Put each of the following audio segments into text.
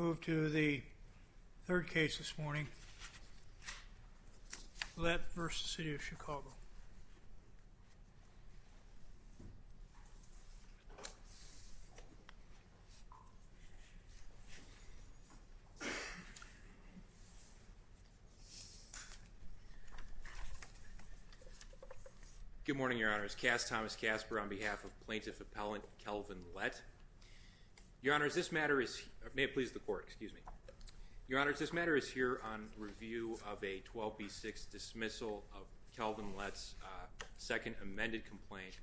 Lett v. City of Chicago Good morning, Your Honors, Cass Thomas Casper on behalf of Plaintiff Appellant Kelvin Lett. Your Honors, this matter is here on review of a 12B6 dismissal of Kelvin Lett's second amended complaint,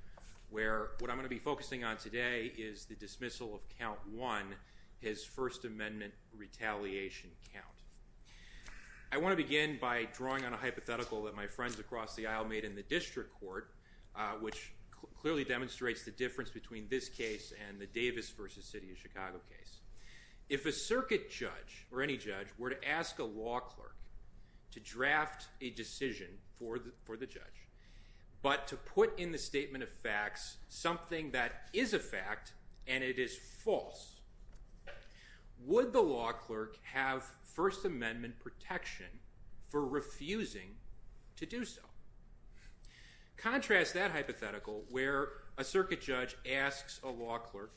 where what I'm going to be focusing on today is the dismissal of count 1, his First Amendment retaliation count. I want to begin by drawing on a hypothetical that my friends across the aisle made in the Davis v. City of Chicago case. If a circuit judge or any judge were to ask a law clerk to draft a decision for the judge, but to put in the statement of facts something that is a fact and it is false, would the law clerk have First Amendment protection for refusing to do so? Contrast that hypothetical where a circuit judge asks a law clerk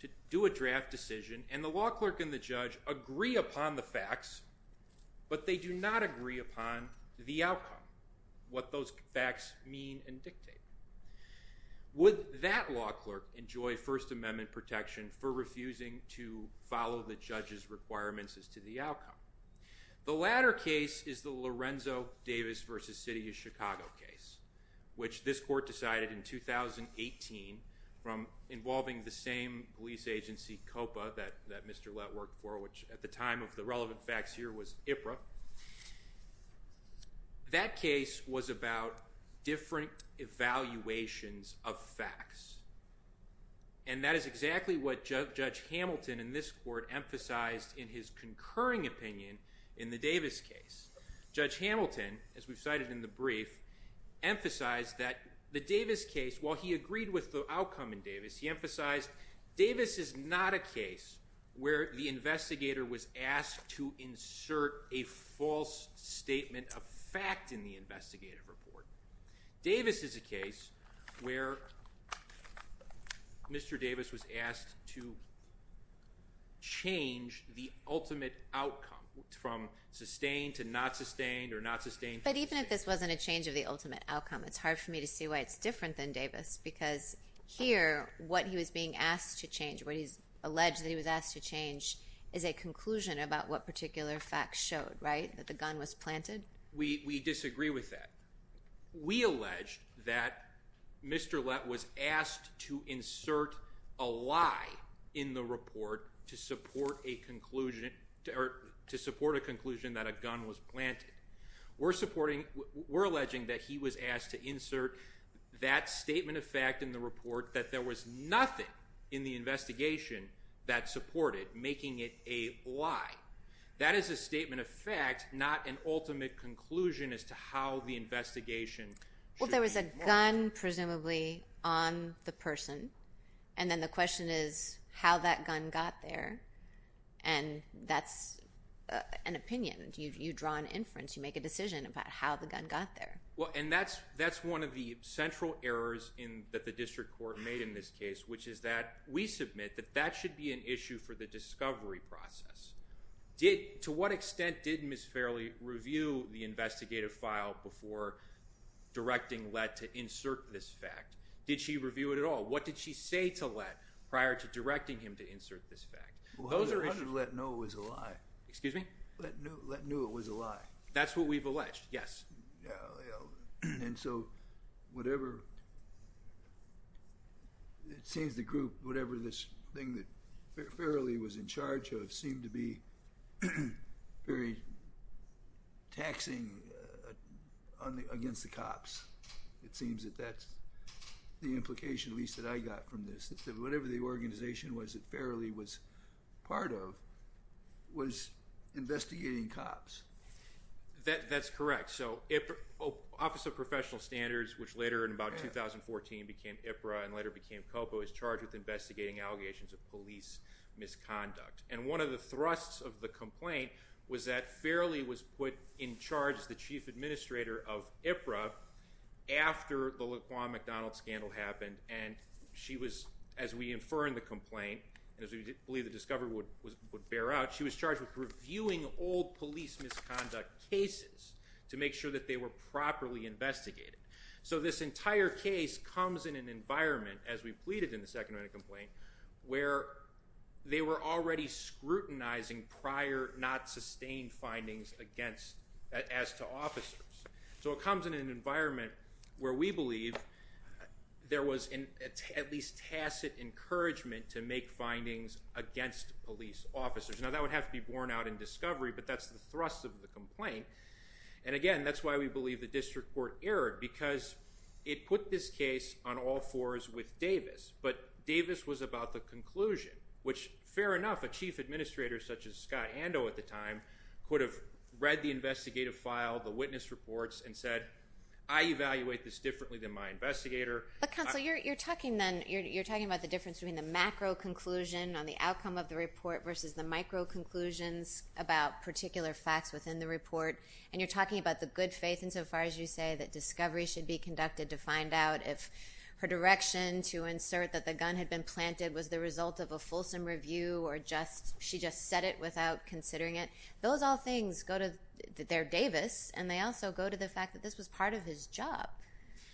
to do a draft decision and the law clerk and the judge agree upon the facts, but they do not agree upon the outcome, what those facts mean and dictate. Would that law clerk enjoy First Amendment protection for refusing to follow the judge's requirements as to the outcome? The latter case is the Lorenzo Davis v. City of Chicago case, which this court decided in 2018 from involving the same police agency COPA that Mr. Lett worked for, which at the time of the relevant facts here was IPRA. That case was about different evaluations of facts, and that is exactly what Judge Hamilton in this court emphasized in his concurring opinion in the Davis case. Judge Hamilton, as we've cited in the brief, emphasized that the Davis case, while he agreed with the outcome in Davis, he emphasized Davis is not a case where the investigator was asked to insert a false statement of fact in the investigative report. Davis is a case where Mr. Davis was asked to change the ultimate outcome from sustained to not sustained or not sustained to sustained. But even if this wasn't a change of the ultimate outcome, it's hard for me to see why it's different than Davis because here, what he was being asked to change, what he's alleged that he was asked to change, is a conclusion about what particular facts showed, right? That the gun was planted? We disagree with that. We allege that Mr. Lett was asked to insert a lie in the report to support a conclusion that a gun was planted. We're alleging that he was asked to insert that statement of fact in the report that there was nothing in the investigation that supported making it a lie. That is a statement of fact, not an ultimate conclusion as to how the investigation should be modeled. Well, there was a gun presumably on the person, and then the question is how that gun got there, and that's an opinion. You draw an inference. You make a decision about how the gun got there. Well, and that's one of the central errors that the district court made in this case, which is that we submit that that should be an issue for the discovery process. To what extent did Ms. Fairley review the investigative file before directing Lett to insert this fact? Did she review it at all? What did she say to Lett prior to directing him to insert this fact? Those are issues. Well, I wanted Lett to know it was a lie. Excuse me? Lett knew it was a lie. That's what we've alleged. Yes. And so whatever, it seems the group, whatever this thing that Fairley was in charge of seemed to be very taxing against the cops. It seems that that's the implication at least that I got from this, that whatever the organization was that Fairley was part of was investigating cops. That's correct. So Office of Professional Standards, which later in about 2014 became IPRA and later became COPA, was charged with investigating allegations of police misconduct. And one of the thrusts of the complaint was that Fairley was put in charge as the chief administrator of IPRA after the Laquan McDonald scandal happened. And she was, as we infer in the complaint, as we believe the discovery would bear out, she was charged with reviewing old police misconduct cases to make sure that they were properly investigated. So this entire case comes in an environment, as we pleaded in the second round of complaint, where they were already scrutinizing prior not sustained findings against, as to officers. So it comes in an environment where we believe there was at least tacit encouragement to make findings against police officers. Now that would have to be borne out in discovery, but that's the thrust of the complaint. And again, that's why we believe the district court erred, because it put this case on all fours with Davis. But Davis was about the conclusion, which fair enough, a chief administrator such as Scott Ando at the time could have read the investigative file, the witness reports, and said, I evaluate this differently than my investigator. But counsel, you're talking then, you're talking about the difference between the macro conclusion on the outcome of the report versus the micro conclusions about particular facts within the report. And you're talking about the good faith insofar as you say that discovery should be conducted to find out if her direction to insert that the gun had been planted was the result of a fulsome review, or she just said it without considering it. Those all things go to, they're Davis, and they also go to the fact that this was part of his job.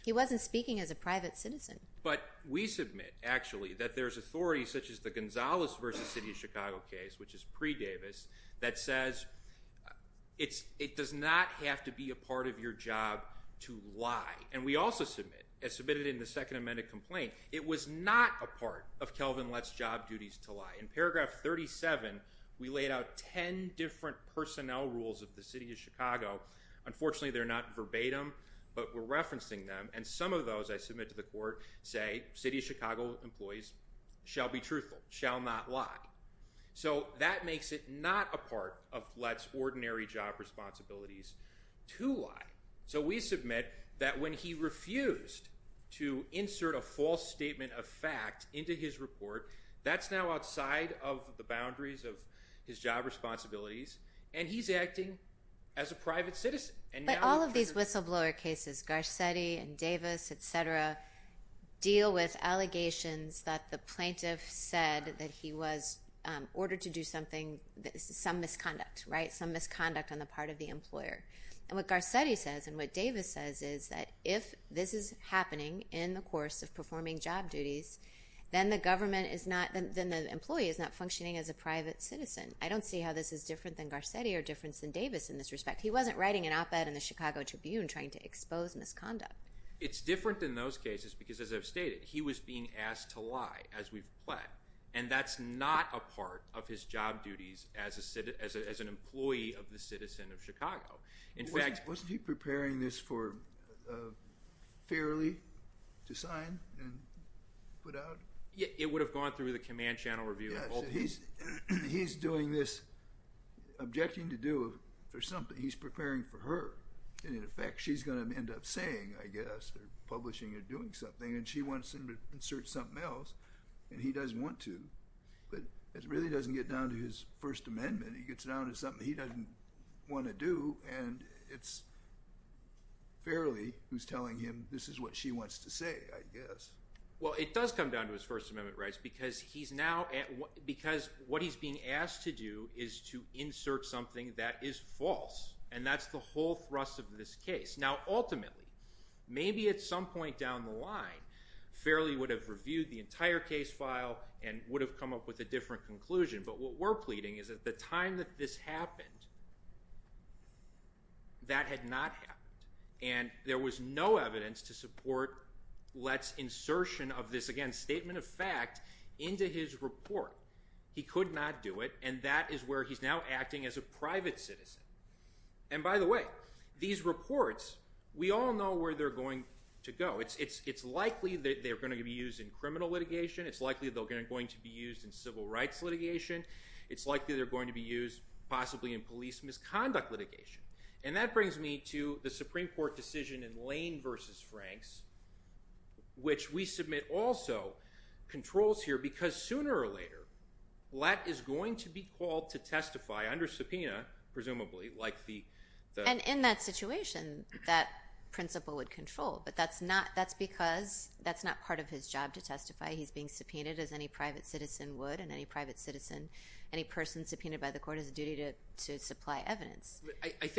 He wasn't speaking as a private citizen. But we submit, actually, that there's authorities such as the Gonzalez versus City of Chicago case, which is pre-Davis, that says it does not have to be a part of your job to lie. And we also submit, as submitted in the second amended complaint, it was not a part of Kelvin Letts' job duties to lie. In paragraph 37, we laid out 10 different personnel rules of the City of Chicago. Unfortunately, they're not verbatim, but we're referencing them. And some of those I submit to the court say, City of Chicago employees shall be truthful, shall not lie. So that makes it not a part of Letts' ordinary job responsibilities to lie. So we submit that when he refused to insert a false statement of fact into his report, that's now outside of the boundaries of his job responsibilities, and he's acting as a private citizen. But all of these whistleblower cases, Garcetti and Davis, et cetera, deal with allegations that the plaintiff said that he was ordered to do something, some misconduct, right? Some misconduct on the part of the employer. And what Garcetti says and what Davis says is that if this is happening in the course of performing job duties, then the government is not, then the employee is not functioning as a private citizen. I don't see how this is different than Garcetti or different than Davis in this respect. He wasn't writing an op-ed in the Chicago Tribune trying to expose misconduct. It's different than those cases because, as I've stated, he was being asked to lie as we've pled. And that's not a part of his job duties as an employee of the citizen of Chicago. In fact- Wasn't he preparing this for, fairly, to sign and put out? It would have gone through the command channel review. He's doing this, objecting to do something. He's preparing for her. And, in effect, she's going to end up saying, I guess, or publishing or doing something, and she wants him to insert something else, and he doesn't want to. But it really doesn't get down to his First Amendment. It gets down to something he doesn't want to do, and it's fairly who's telling him this is what she wants to say, I guess. Well, it does come down to his First Amendment rights because he's now, because what he's being asked to do is to insert something that is false, and that's the whole thrust of this case. Now, ultimately, maybe at some point down the line, Fairley would have reviewed the entire case file and would have come up with a different conclusion, but what we're pleading is that at the time that this happened, that had not happened, and there was no evidence to support Lett's insertion of this, again, statement of fact, into his report. He could not do it, and that is where he's now acting as a private citizen. And by the way, these reports, we all know where they're going to go. It's likely that they're going to be used in criminal litigation. It's likely they're going to be used in civil rights litigation. It's likely they're going to be used, possibly, in police misconduct litigation. And that brings me to the Supreme Court decision in Lane v. Franks, which we submit also controls here because sooner or later, Lett is going to be called to testify under subpoena, presumably, like the- And in that situation, that principle would control, but that's because that's not part of his job to testify. He's being subpoenaed as any private citizen would, and any private citizen, any person subpoenaed by the court has a duty to supply evidence.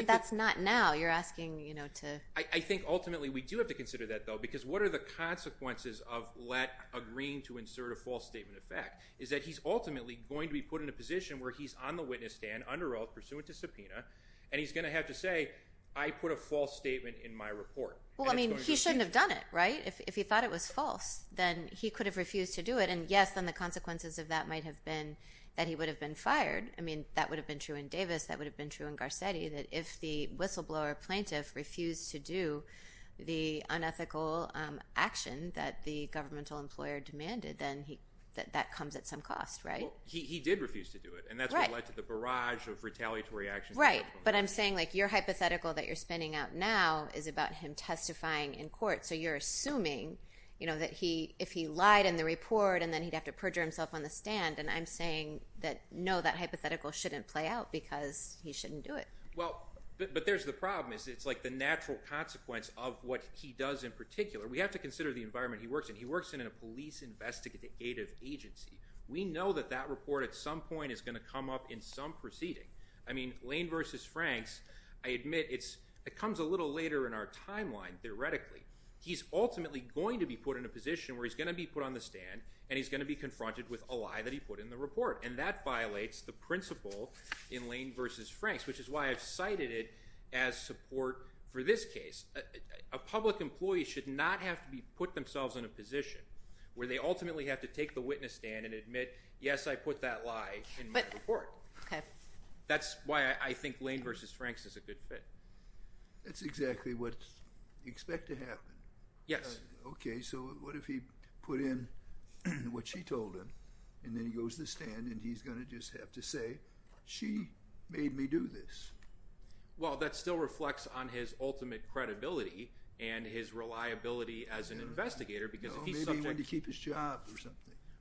That's not now. You're asking to- I think, ultimately, we do have to consider that, though, because what are the consequences of Lett agreeing to insert a false statement of fact? Is that he's ultimately going to be put in a position where he's on the witness stand under oath pursuant to subpoena, and he's going to have to say, I put a false statement in my report. Well, I mean, he shouldn't have done it, right? If he thought it was false, then he could have refused to do it, and yes, then the consequences of that might have been that he would have been fired. I mean, that would have been true in Davis. That would have been true in Garcetti, that if the whistleblower plaintiff refused to do the unethical action that the governmental employer demanded, then that comes at some cost, right? Well, he did refuse to do it, and that's what led to the barrage of retaliatory actions that- Right, but I'm saying your hypothetical that you're spinning out now is about him testifying in court, so you're assuming that if he lied in the report, and then he'd have to perjure himself on the stand, and I'm saying that, no, that hypothetical shouldn't play out because he shouldn't do it. Well, but there's the problem, is it's like the natural consequence of what he does in particular. We have to consider the environment he works in. He works in a police investigative agency. We know that that report, at some point, is going to come up in some proceeding. I mean, Lane v. Franks, I admit, it comes a little later in our timeline, theoretically. He's ultimately going to be put in a position where he's going to be put on the stand, and he's going to be confronted with a lie that he put in the report, and that violates the I've cited it as support for this case. A public employee should not have to be put themselves in a position where they ultimately have to take the witness stand and admit, yes, I put that lie in my report. That's why I think Lane v. Franks is a good fit. That's exactly what you expect to happen. Yes. Okay, so what if he put in what she told him, and then he goes to the stand, and he's going to just have to say, she made me do this? Well, that still reflects on his ultimate credibility, and his reliability as an investigator, because if he's subject— Well, maybe he went to keep his job or something.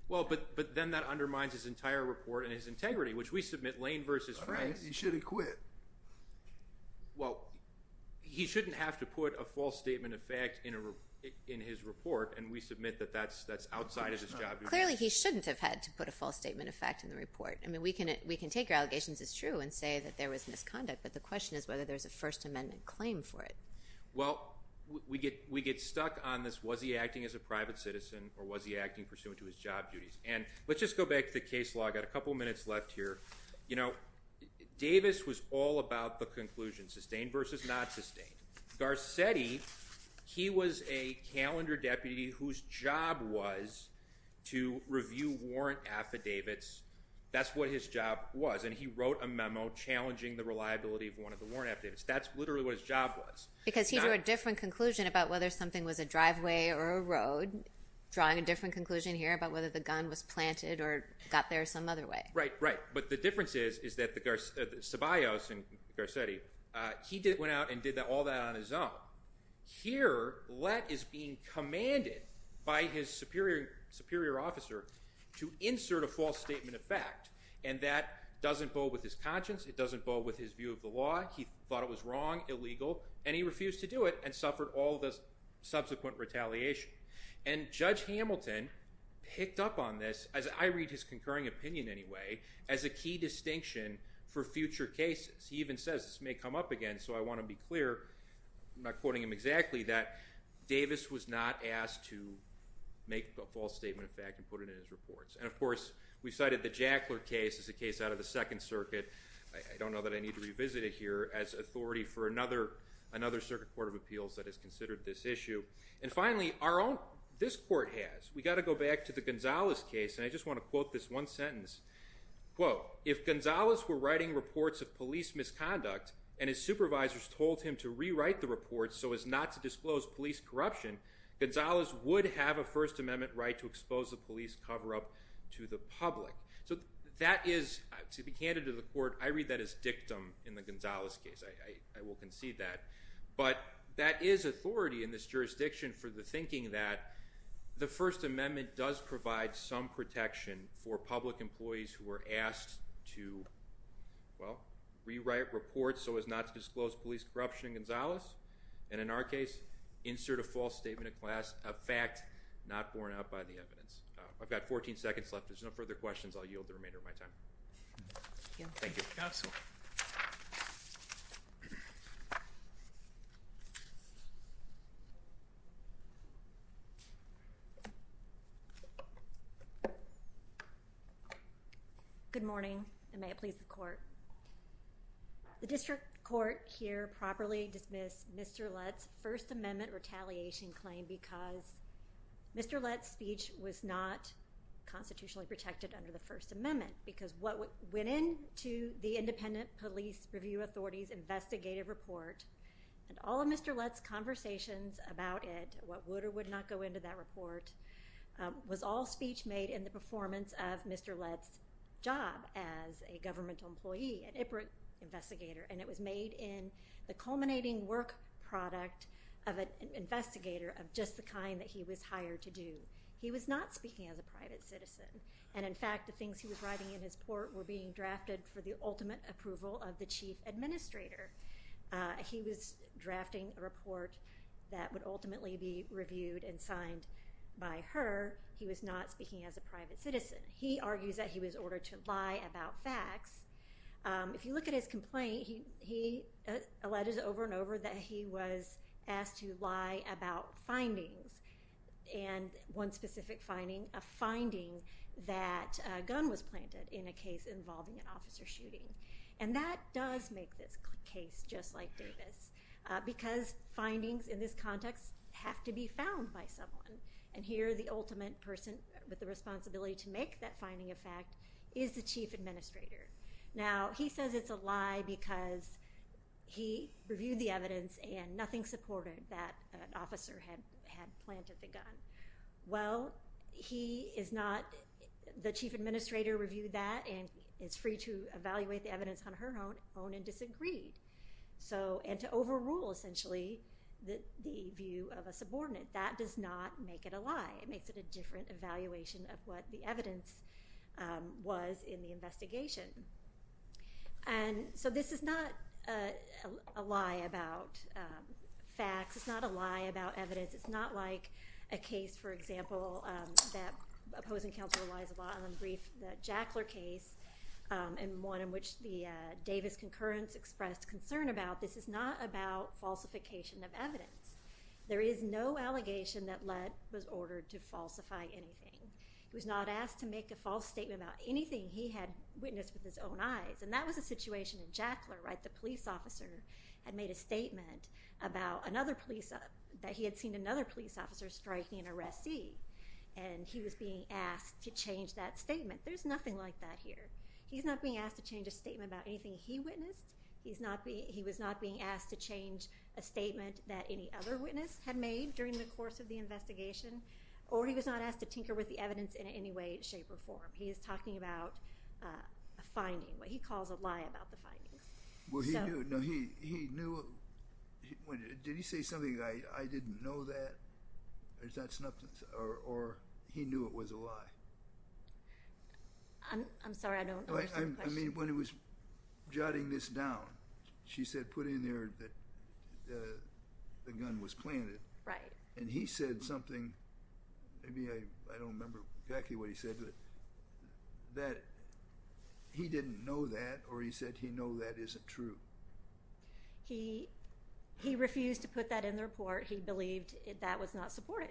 Well, but then that undermines his entire report and his integrity, which we submit Lane v. Franks— All right. He should have quit. Well, he shouldn't have to put a false statement of fact in his report, and we submit that that's outside of his job— Clearly, he shouldn't have had to put a false statement of fact in the report. I mean, we can take your allegations as true and say that there was misconduct, but the question is whether there's a First Amendment claim for it. Well, we get stuck on this, was he acting as a private citizen, or was he acting pursuant to his job duties? And let's just go back to the case law. I've got a couple minutes left here. You know, Davis was all about the conclusion, sustained versus not sustained. Garcetti, he was a calendar deputy whose job was to review warrant affidavits. That's what his job was, and he wrote a memo challenging the reliability of one of the warrant affidavits. That's literally what his job was. Because he drew a different conclusion about whether something was a driveway or a road, drawing a different conclusion here about whether the gun was planted or got there some other way. Right, right. But the difference is that Ceballos and Garcetti, he went out and did all that on his own. Here, Lett is being commanded by his superior officer to insert a false statement of fact, and that doesn't bode with his conscience, it doesn't bode with his view of the law. He thought it was wrong, illegal, and he refused to do it and suffered all the subsequent retaliation. And Judge Hamilton picked up on this, as I read his concurring opinion anyway, as a key distinction for future cases. He even says, this may come up again, so I want to be clear, I'm not quoting him exactly, that Davis was not asked to make a false statement of fact and put it in his reports. And of course, we cited the Jackler case as a case out of the Second Circuit. I don't know that I need to revisit it here as authority for another circuit court of appeals that has considered this issue. And finally, our own, this court has. We got to go back to the Gonzalez case, and I just want to quote this one sentence, quote, if Gonzalez were writing reports of police misconduct and his supervisors told him to rewrite the reports so as not to disclose police corruption, Gonzalez would have a First Amendment right to expose the police cover-up to the public. So that is, to be candid to the court, I read that as dictum in the Gonzalez case, I will concede that. But that is authority in this jurisdiction for the thinking that the First Amendment does provide some protection for public employees who are asked to, well, rewrite reports so as not to disclose police corruption in Gonzalez, and in our case, insert a false statement of fact not borne out by the evidence. I've got 14 seconds left, if there's no further questions, I'll yield the remainder of my time. Thank you. Thank you. Absolutely. Thank you. Good morning, and may it please the court. The district court here properly dismissed Mr. Lutz's First Amendment retaliation claim because Mr. Lutz's speech was not constitutionally protected under the First Amendment, because what went into the Independent Police Review Authority's investigative report and all of Mr. Lutz's conversations about it, what would or would not go into that report, was all speech made in the performance of Mr. Lutz's job as a governmental employee, an IPROT investigator, and it was made in the culminating work product of an investigator of just the kind that he was hired to do. He was not speaking as a private citizen, and in fact, the things he was writing in his report were being drafted for the ultimate approval of the chief administrator. He was drafting a report that would ultimately be reviewed and signed by her. He was not speaking as a private citizen. He argues that he was ordered to lie about facts. If you look at his complaint, he alleged over and over that he was asked to lie about findings, and one specific finding, a finding that a gun was planted in a case involving an officer shooting, and that does make this case just like Davis, because findings in this context have to be found by someone, and here the ultimate person with the responsibility to make that finding a fact is the chief administrator. Now, he says it's a lie because he reviewed the evidence and nothing supported that an officer planted the gun. Well, he is not, the chief administrator reviewed that and is free to evaluate the evidence on her own and disagreed, and to overrule, essentially, the view of a subordinate. That does not make it a lie. It makes it a different evaluation of what the evidence was in the investigation, and so this is not a lie about facts. It's not a lie about evidence. It's not like a case, for example, that opposing counsel relies a lot on the brief, the Jackler case, and one in which the Davis concurrence expressed concern about, this is not about falsification of evidence. There is no allegation that Ledd was ordered to falsify anything. He was not asked to make a false statement about anything he had witnessed with his own eyes, and that was a situation in Jackler, right? The police officer had made a statement about another police, that he had seen another police officer striking an arrestee, and he was being asked to change that statement. There's nothing like that here. He's not being asked to change a statement about anything he witnessed. He's not being, he was not being asked to change a statement that any other witness had made during the course of the investigation, or he was not asked to tinker with the evidence in any way, shape, or form. He is talking about a finding, what he calls a lie about the findings. Well, he knew, did he say something, I didn't know that, or he knew it was a lie? I'm sorry, I don't understand the question. I mean, when he was jotting this down, she said, put in there that the gun was planted. Right. And he said something, maybe I don't remember exactly what he said, but that he didn't know that, or he said he know that isn't true? He, he refused to put that in the report. He believed that was not supported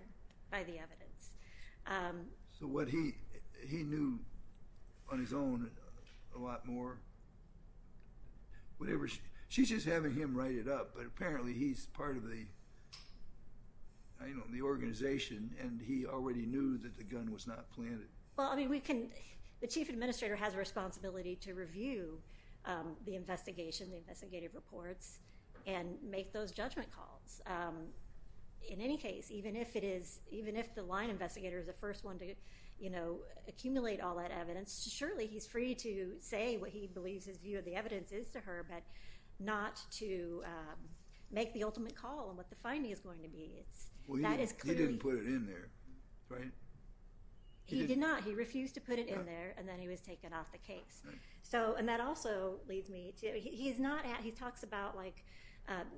by the evidence. So what he, he knew on his own a lot more? Whatever, she's just having him write it up, but apparently he's part of the, I don't know, the organization, and he already knew that the gun was not planted. Well, I mean, we can, the chief administrator has a responsibility to review the investigation, the investigative reports, and make those judgment calls. In any case, even if it is, even if the line investigator is the first one to, you know, accumulate all that evidence, surely he's free to say what he believes his view of the evidence is to her, but not to make the ultimate call on what the finding is going to be. It's, that is clearly. He didn't put it in there, right? He did not. He refused to put it in there, and then he was taken off the case. So, and that also leads me to, he's not, he talks about like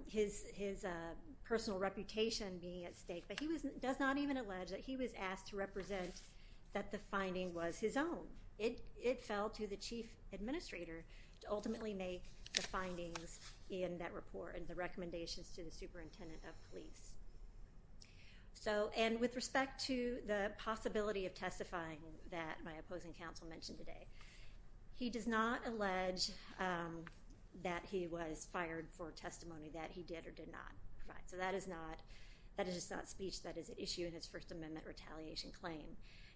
his, his personal reputation being at stake, but he was, does not even allege that he was asked to represent that the finding was his own. It, it fell to the chief administrator to ultimately make the findings in that report and the recommendations to the superintendent of police. So, and with respect to the possibility of testifying that my opposing counsel mentioned today, he does not allege that he was fired for testimony that he did or did not provide. So, that is not, that is just not speech that is at issue in his First Amendment retaliation claim.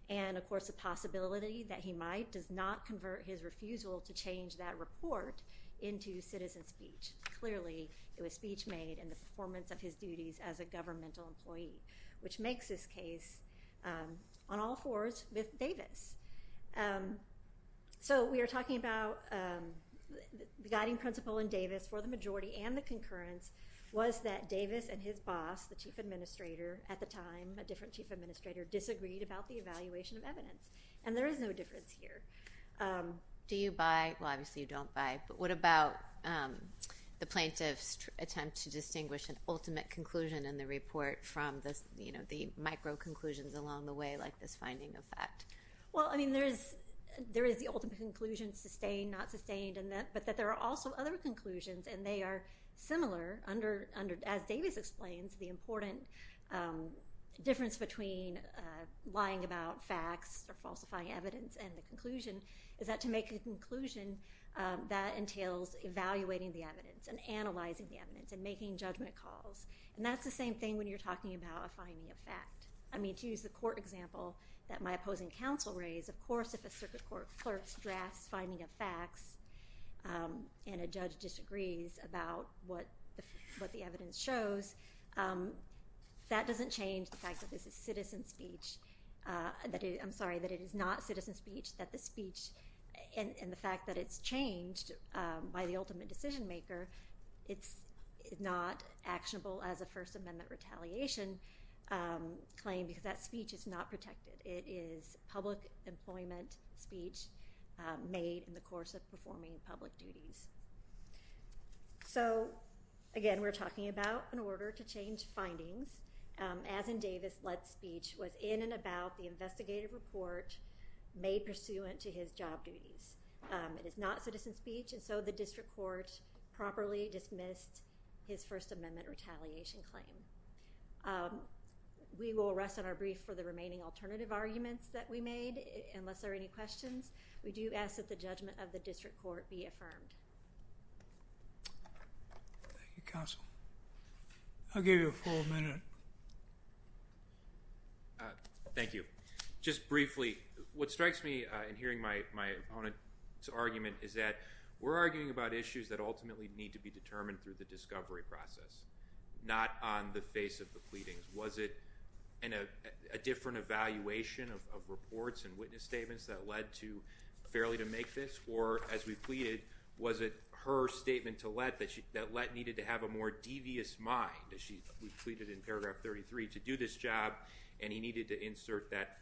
And, of course, the possibility that he might does not convert his refusal to change that report into citizen speech. Clearly, it was speech made in the performance of his duties as a governmental employee, which makes this case on all fours with Davis. So, we are talking about the guiding principle in Davis for the majority and the concurrence was that Davis and his boss, the chief administrator, at the time, a different chief administrator, disagreed about the evaluation of evidence. And there is no difference here. Do you buy, well, obviously you don't buy, but what about the plaintiff's attempt to distinguish an ultimate conclusion in the report from the, you know, the micro conclusions along the way, like this finding of fact? Well, I mean, there is, there is the ultimate conclusion sustained, not sustained, and that, but that there are also other conclusions and they are similar under, under, as Davis explains, the important difference between lying about facts or falsifying evidence and the conclusion is that to make a conclusion, that entails evaluating the evidence and analyzing the evidence and making judgment calls. And that's the same thing when you're talking about a finding of fact. I mean, to use the court example that my opposing counsel raised, of course, if a circuit court clerks drafts finding of facts and a judge disagrees about what the, what the evidence shows, that doesn't change the fact that this is citizen speech, that it, I'm sorry, that it is not citizen speech, that the speech and the fact that it's changed by the ultimate decision maker, it's not actionable as a First Amendment retaliation claim because that speech is not protected. It is public employment speech made in the course of performing public duties. So, again, we're talking about an order to change findings as in Davis' lead speech was in and about the investigative report made pursuant to his job duties. It is not citizen speech and so the district court properly dismissed his First Amendment retaliation claim. We will rest on our brief for the remaining alternative arguments that we made, unless there are any questions. We do ask that the judgment of the district court be affirmed. Thank you, counsel. I'll give you a full minute. Thank you. Just briefly, what strikes me in hearing my opponent's argument is that we're arguing about issues that ultimately need to be determined through the discovery process, not on the face of the pleadings. Was it in a different evaluation of reports and witness statements that led to or, as we pleaded, was it her statement to Lett that Lett needed to have a more devious mind, as we pleaded in paragraph 33, to do this job and he needed to insert that,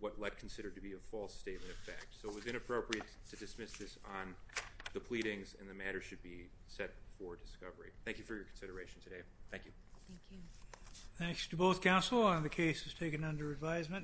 what Lett considered to be a false statement of fact. So it was inappropriate to dismiss this on the pleadings and the matter should be set for discovery. Thank you for your consideration today. Thank you. Thanks to both counsel. The case is taken under advisement.